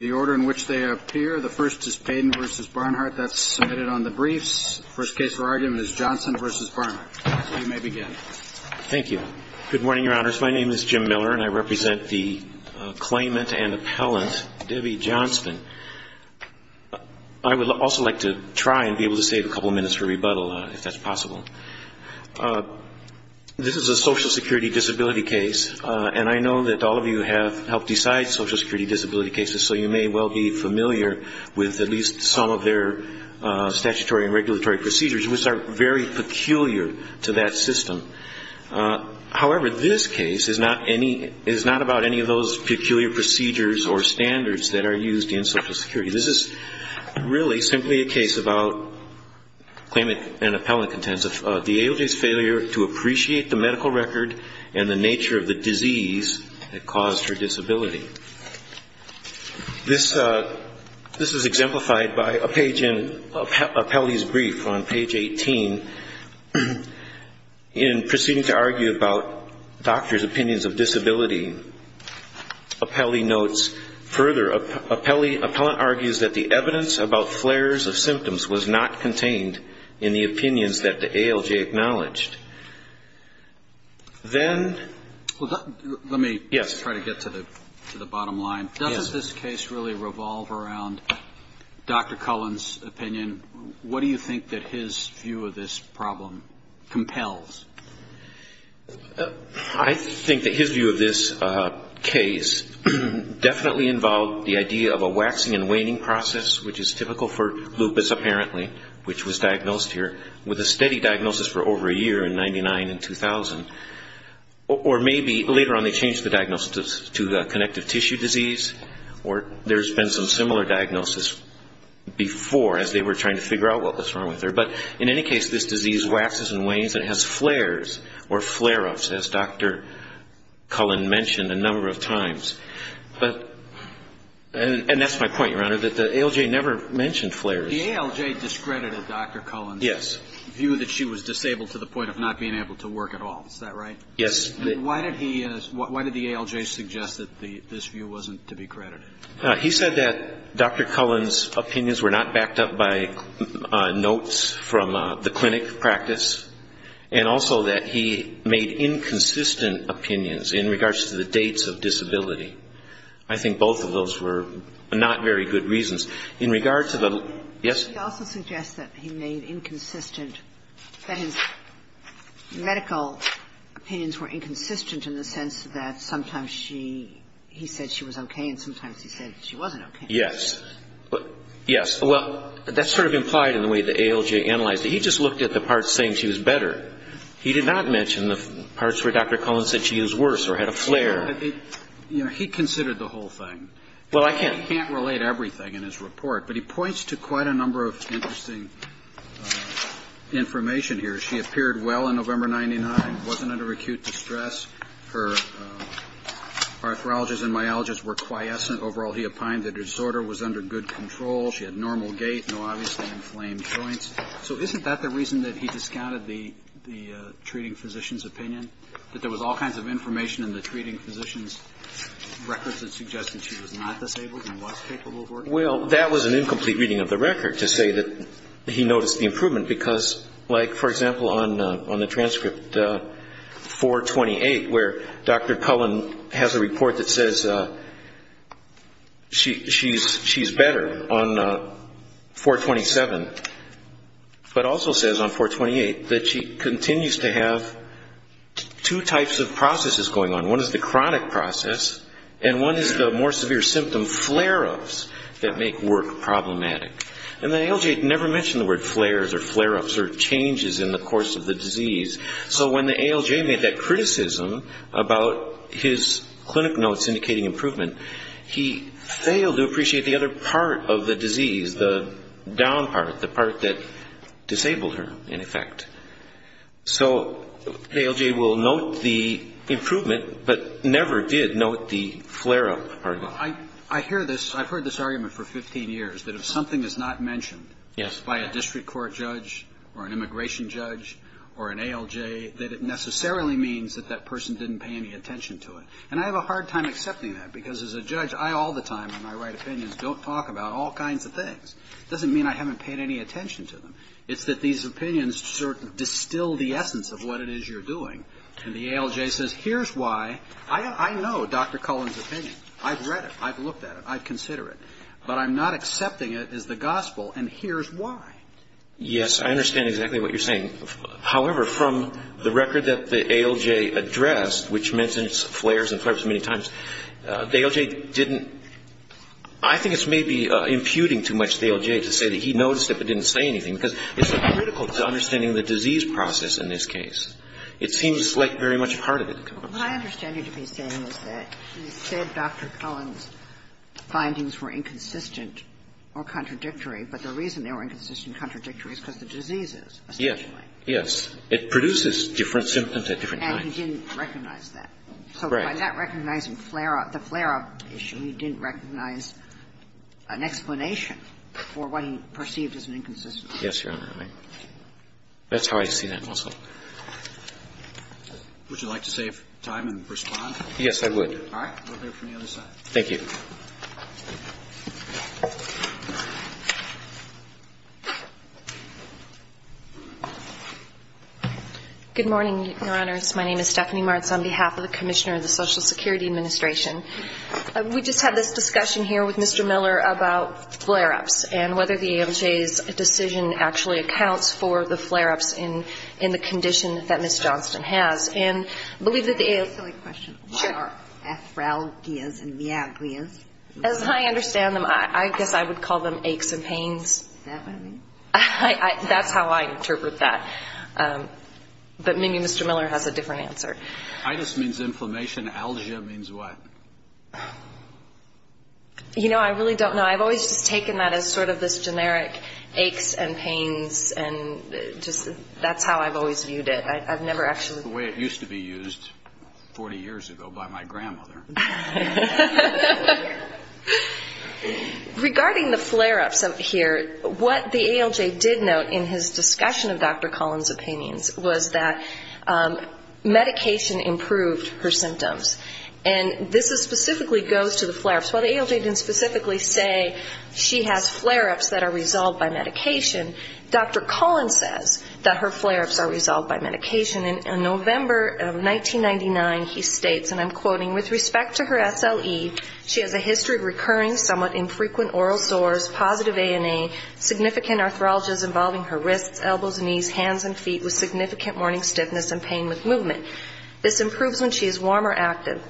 The order in which they appear, the first is PAYDEN v. BARNHARDT. That's submitted on the briefs. The first case for argument is JOHNSTON v. BARNHARDT. You may begin. Thank you. Good morning, your honors. My name is Jim Miller and I represent the claimant and appellant, Debbie Johnston. I would also like to try and be able to save a couple of minutes for rebuttal, if that's possible. This is a Social Security disability case, and I know that all of you have helped decide Social Security disability cases, so you may well be familiar with at least some of their statutory and regulatory procedures, which are very peculiar to that system. However, this case is not about any of those peculiar procedures or standards that are used in Social Security. This is really simply a case about claimant and appellant contention, the ALJ's failure to appreciate the medical record and the nature of the disease that caused her disability. This is exemplified by a page in Appellee's brief on page 18. In proceeding to argue about doctors' opinions of disability, Appellee notes further, appellant argues that the evidence about flares of symptoms was not contained in the opinions that the ALJ acknowledged. Let me try to get to the bottom line. Does this case really revolve around Dr. Cullen's opinion? What do you think that his view of this problem compels? I think that his view of this case definitely involved the idea of a waxing and waning process, which is typical for lupus apparently, which was diagnosed here with a steady diagnosis for over a year in 1999 and 2000. Or maybe later on they changed the diagnosis to connective tissue disease, or there's been some similar diagnosis before as they were trying to figure out what was wrong with her. But in any case, this disease waxes and wanes and has flares or flare-ups, as Dr. Cullen mentioned a number of times. And that's my point, Your Honor, that the ALJ never mentioned flares. The ALJ discredited Dr. Cullen's view that she was disabled to the point of not being able to work at all. Is that right? Yes. Why did the ALJ suggest that this view wasn't to be credited? He said that Dr. Cullen's opinions were not backed up by notes from the clinic practice, and also that he made inconsistent opinions in regards to the dates of disability. I think both of those were not very good reasons. In regards to the – yes? He also suggests that he made inconsistent – that his medical opinions were inconsistent in the sense that sometimes she – he said she was okay, and sometimes he said she wasn't okay. Yes. Yes. Well, that's sort of implied in the way the ALJ analyzed it. He just looked at the parts saying she was better. He did not mention the parts where Dr. Cullen said she was worse or had a flare. You know, he considered the whole thing. Well, I can't – He can't relate everything in his report, but he points to quite a number of interesting information here. She appeared well on November 99, wasn't under acute distress. Her arthrologists and myologists were quiescent. Overall, he opined that her disorder was under good control. She had normal gait, no obviously inflamed joints. So isn't that the reason that he discounted the treating physician's opinion, that there was all kinds of information in the treating physician's records that suggested she was not disabled and was capable of working? Well, that was an incomplete reading of the record to say that he noticed the improvement because, like, for example, on the transcript 428 where Dr. Cullen has a report that says she's better on 427, but also says on 428 that she continues to have two types of processes going on. One is the chronic process, and one is the more severe symptom flare-ups that make work problematic. And the ALJ never mentioned the word flares or flare-ups or changes in the course of the disease. So when the ALJ made that criticism about his clinic notes indicating improvement, he failed to appreciate the other part of the disease, the down part, the part that disabled her, in effect. So the ALJ will note the improvement, but never did note the flare-up part of it. I've heard this argument for 15 years, that if something is not mentioned by a district court judge or an immigration judge or an ALJ, that it necessarily means that that person didn't pay any attention to it. And I have a hard time accepting that, because as a judge, I all the time, in my right opinions, don't talk about all kinds of things. It doesn't mean I haven't paid any attention to them. It's that these opinions sort of distill the essence of what it is you're doing. And the ALJ says, here's why. I know Dr. Cullen's opinion. I've read it. I've looked at it. I consider it. But I'm not accepting it as the gospel, and here's why. Yes, I understand exactly what you're saying. However, from the record that the ALJ addressed, which mentions flares and flare-ups many times, the ALJ didn't – I think it's maybe imputing too much to the ALJ to say that he noticed it but didn't say anything, because it's critical to understanding the disease process in this case. It seems like very much part of it. What I understand you to be saying is that you said Dr. Cullen's findings were inconsistent or contradictory, but the reason they were inconsistent and contradictory is because of the diseases, essentially. Yes. It produces different symptoms at different times. And he didn't recognize that. Right. So by not recognizing flare-up – the flare-up issue, he didn't recognize an explanation for what he perceived as an inconsistency. Yes, Your Honor. That's how I see that muscle. Would you like to save time and respond? Yes, I would. All right. We'll hear from the other side. Thank you. Good morning, Your Honors. My name is Stephanie Martz on behalf of the Commissioner of the Social Security Administration. We just had this discussion here with Mr. Miller about flare-ups and whether the ALJ's decision actually accounts for the flare-ups in the condition that Ms. Johnston has. And I believe that the – Can I ask a question? Sure. What are aphralgias and viagrias? As I understand them, I guess I would call them aches and pains. Is that what it means? That's how I interpret that. But maybe Mr. Miller has a different answer. Itis means inflammation. Algia means what? You know, I really don't know. I've always just taken that as sort of this generic aches and pains and just that's how I've always viewed it. I've never actually – That's the way it used to be used 40 years ago by my grandmother. Regarding the flare-ups here, what the ALJ did note in his discussion of Dr. Collins' opinions was that medication improved her symptoms. And this specifically goes to the flare-ups. While the ALJ didn't specifically say she has flare-ups that are resolved by medication, Dr. Collins says that her flare-ups are resolved by medication. In November of 1999, he states, and I'm quoting, with respect to her SLE, she has a history of recurring somewhat infrequent oral sores, positive ANA, significant arthralgias involving her wrists, elbows, knees, hands and feet, with significant morning stiffness and pain with movement. This improves when she is warm or active.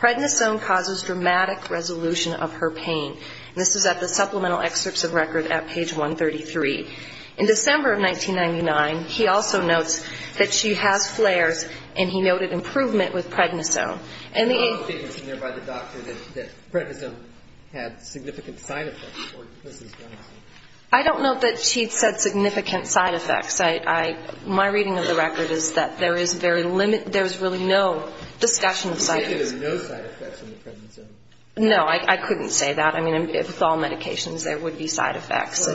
Prednisone causes dramatic resolution of her pain. And this is at the supplemental excerpts of record at page 133. In December of 1999, he also notes that she has flares, and he noted improvement with prednisone. I don't know that she said significant side effects. My reading of the record is that there is very limited ‑‑ there's really no discussion of side effects. You say there's no side effects in the prednisone. No. I couldn't say that. I mean, with all medications, there would be side effects.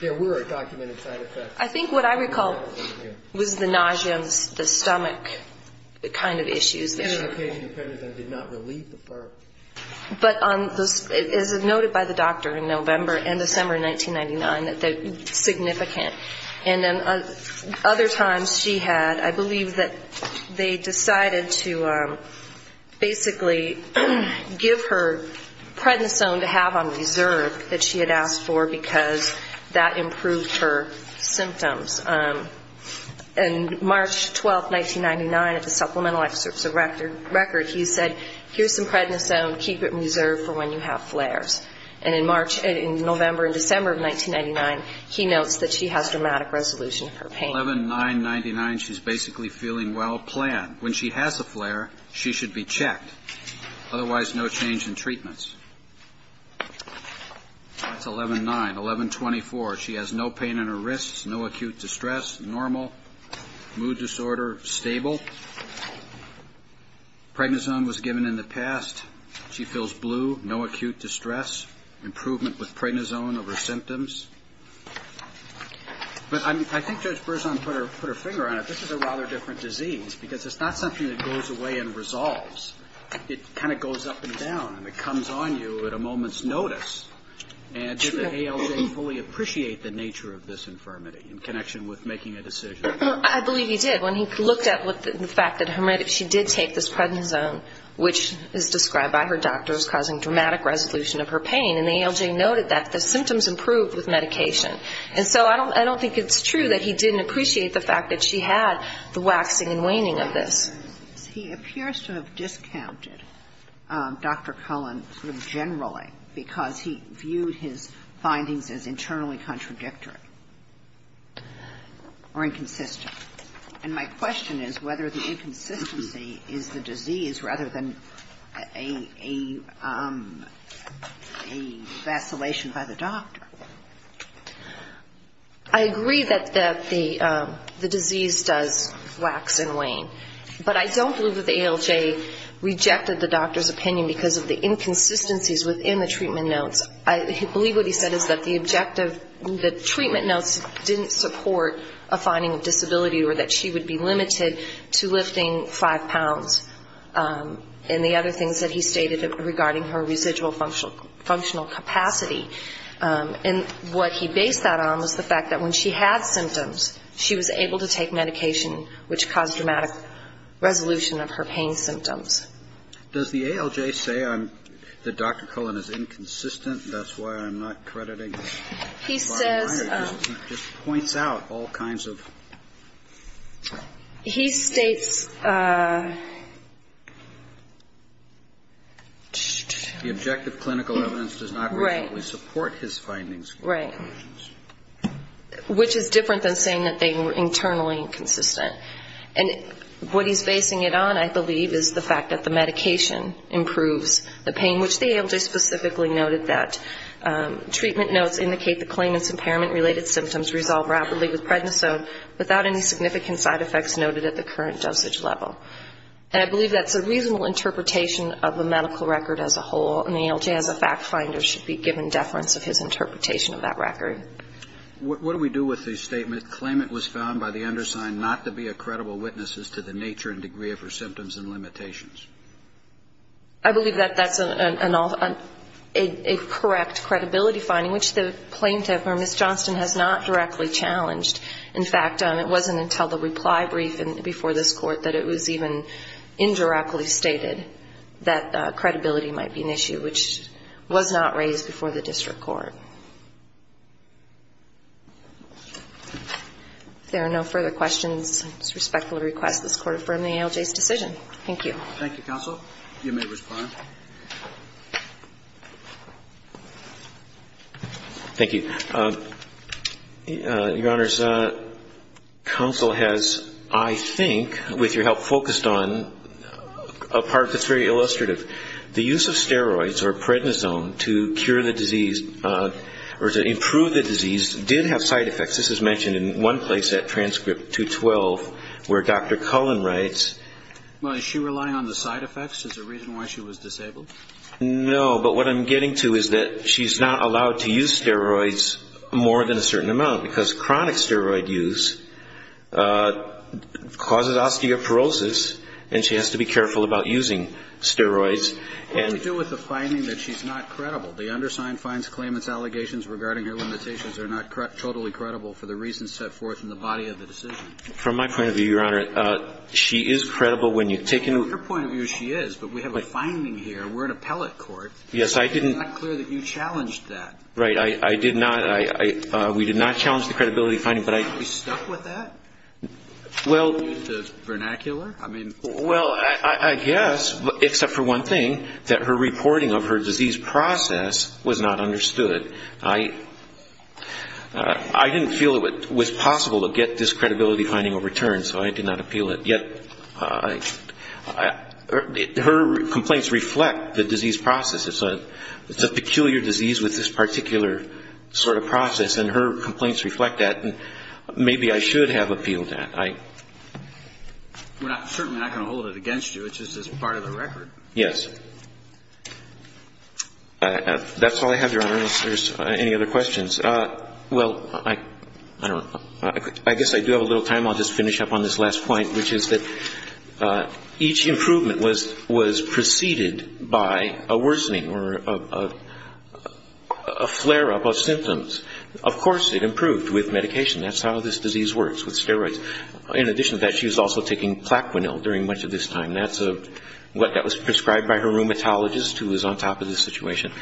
There were documented side effects. I think what I recall was the nausea and the stomach kind of issues. The medication and prednisone did not relieve the flare. But as noted by the doctor in November and December 1999, significant. And then other times she had, I believe that they decided to basically give her prednisone to have on reserve that she had asked for because that improved her symptoms. And March 12, 1999, at the supplemental excerpts of record, he said, here's some prednisone, keep it in reserve for when you have flares. And in March ‑‑ in November and December of 1999, he notes that she has dramatic resolution of her pain. 11.999, she's basically feeling well planned. When she has a flare, she should be checked. Otherwise, no change in treatments. That's 11.9. 11.24, she has no pain in her wrists, no acute distress. Normal. Mood disorder, stable. Prednisone was given in the past. She feels blue, no acute distress. Improvement with prednisone of her symptoms. But I think Judge Berzon put her finger on it. This is a rather different disease because it's not something that goes away and resolves. It kind of goes up and down and it comes on you at a moment's notice. And did the ALJ fully appreciate the nature of this infirmity in connection with making a decision? I believe he did. When he looked at the fact that she did take this prednisone, which is described by her doctors, causing dramatic resolution of her pain, and the ALJ noted that the symptoms improved with medication. And so I don't think it's true that he didn't appreciate the fact that she had the waxing and waning of this. He appears to have discounted Dr. Cullen sort of generally because he viewed his findings as internally contradictory or inconsistent. And my question is whether the inconsistency is the disease rather than a vacillation by the doctor. I agree that the disease does wax and wane. But I don't believe that the ALJ rejected the doctor's opinion because of the inconsistencies within the treatment notes. I believe what he said is that the objective, the treatment notes didn't support a finding of disability or that she would be limited to lifting five pounds. And the other things that he stated regarding her residual functional capacity. And what he based that on was the fact that when she had symptoms, she was able to take medication, which caused dramatic resolution of her pain symptoms. Does the ALJ say that Dr. Cullen is inconsistent? That's why I'm not crediting Dr. Myers. He just points out all kinds of... He states... The objective clinical evidence does not originally support his findings. Which is different than saying that they were internally inconsistent. And what he's basing it on, I believe, is the fact that the medication improves the pain, which the ALJ specifically noted that treatment notes indicate the claimant's impairment-related symptoms resolve rapidly with prednisone without any significant side effects noted at the current dosage level. And I believe that's a reasonable interpretation of the medical record as a whole. And the ALJ as a fact finder should be given deference of his interpretation of that record. What do we do with the statement, claimant was found by the undersigned not to be a credible witness as to the nature and degree of her symptoms and limitations? I believe that that's a correct credibility finding, which the plaintiff or Ms. Johnston has not directly challenged. In fact, it wasn't until the reply brief before this Court that it was even indirectly stated that credibility might be an issue, which was not raised before the district court. If there are no further questions, I respectfully request this Court affirm the ALJ's decision. Thank you. Thank you, counsel. You may respond. Thank you. Your Honors, counsel has, I think, with your help, focused on a part that's very illustrative. The use of steroids or prednisone to cure the disease or to improve the disease did have side effects. This is mentioned in one place, that transcript 212, where Dr. Cullen writes. Well, is she relying on the side effects as a reason why she was disabled? No, but what I'm getting to is that she's not allowed to use steroids more than a certain amount because chronic steroid use causes osteoporosis and she has to be careful about using steroids. What do we do with the finding that she's not credible? The undersigned finds claimant's allegations regarding her limitations are not totally credible for the reasons set forth in the body of the decision. From my point of view, Your Honor, she is credible when you take into account. From your point of view, she is, but we have a finding here. We're an appellate court. Yes, I didn't. It's not clear that you challenged that. Right. I did not. We did not challenge the credibility finding, but I. Are you stuck with that? Well. Well, I guess, except for one thing, that her reporting of her disease process was not understood. I didn't feel it was possible to get this credibility finding overturned, so I did not appeal it. Yet her complaints reflect the disease process. It's a peculiar disease with this particular sort of process, and her complaints reflect that. Maybe I should have appealed that. We're certainly not going to hold it against you. It's just part of the record. Yes. That's all I have, Your Honor, unless there's any other questions. Well, I don't know. I guess I do have a little time. I'll just finish up on this last point, which is that each improvement was preceded by a worsening or a flare-up of symptoms. Of course it improved with medication. That's how this disease works, with steroids. In addition to that, she was also taking Plaquenil during much of this time. That's what was prescribed by her rheumatologist, who was on top of the situation.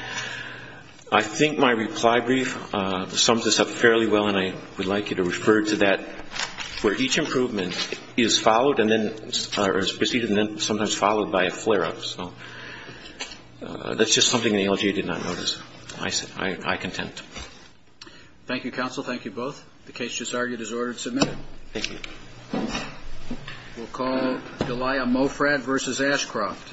I think my reply brief sums this up fairly well, and I would like you to refer to that, where each improvement is followed and then or is preceded and then sometimes followed by a flare-up. So that's just something the LGA did not notice. I contend. Thank you, counsel. Thank you both. The case just argued is ordered and submitted. Thank you. We'll call Delia Mofrad v. Ashcroft. Thank you.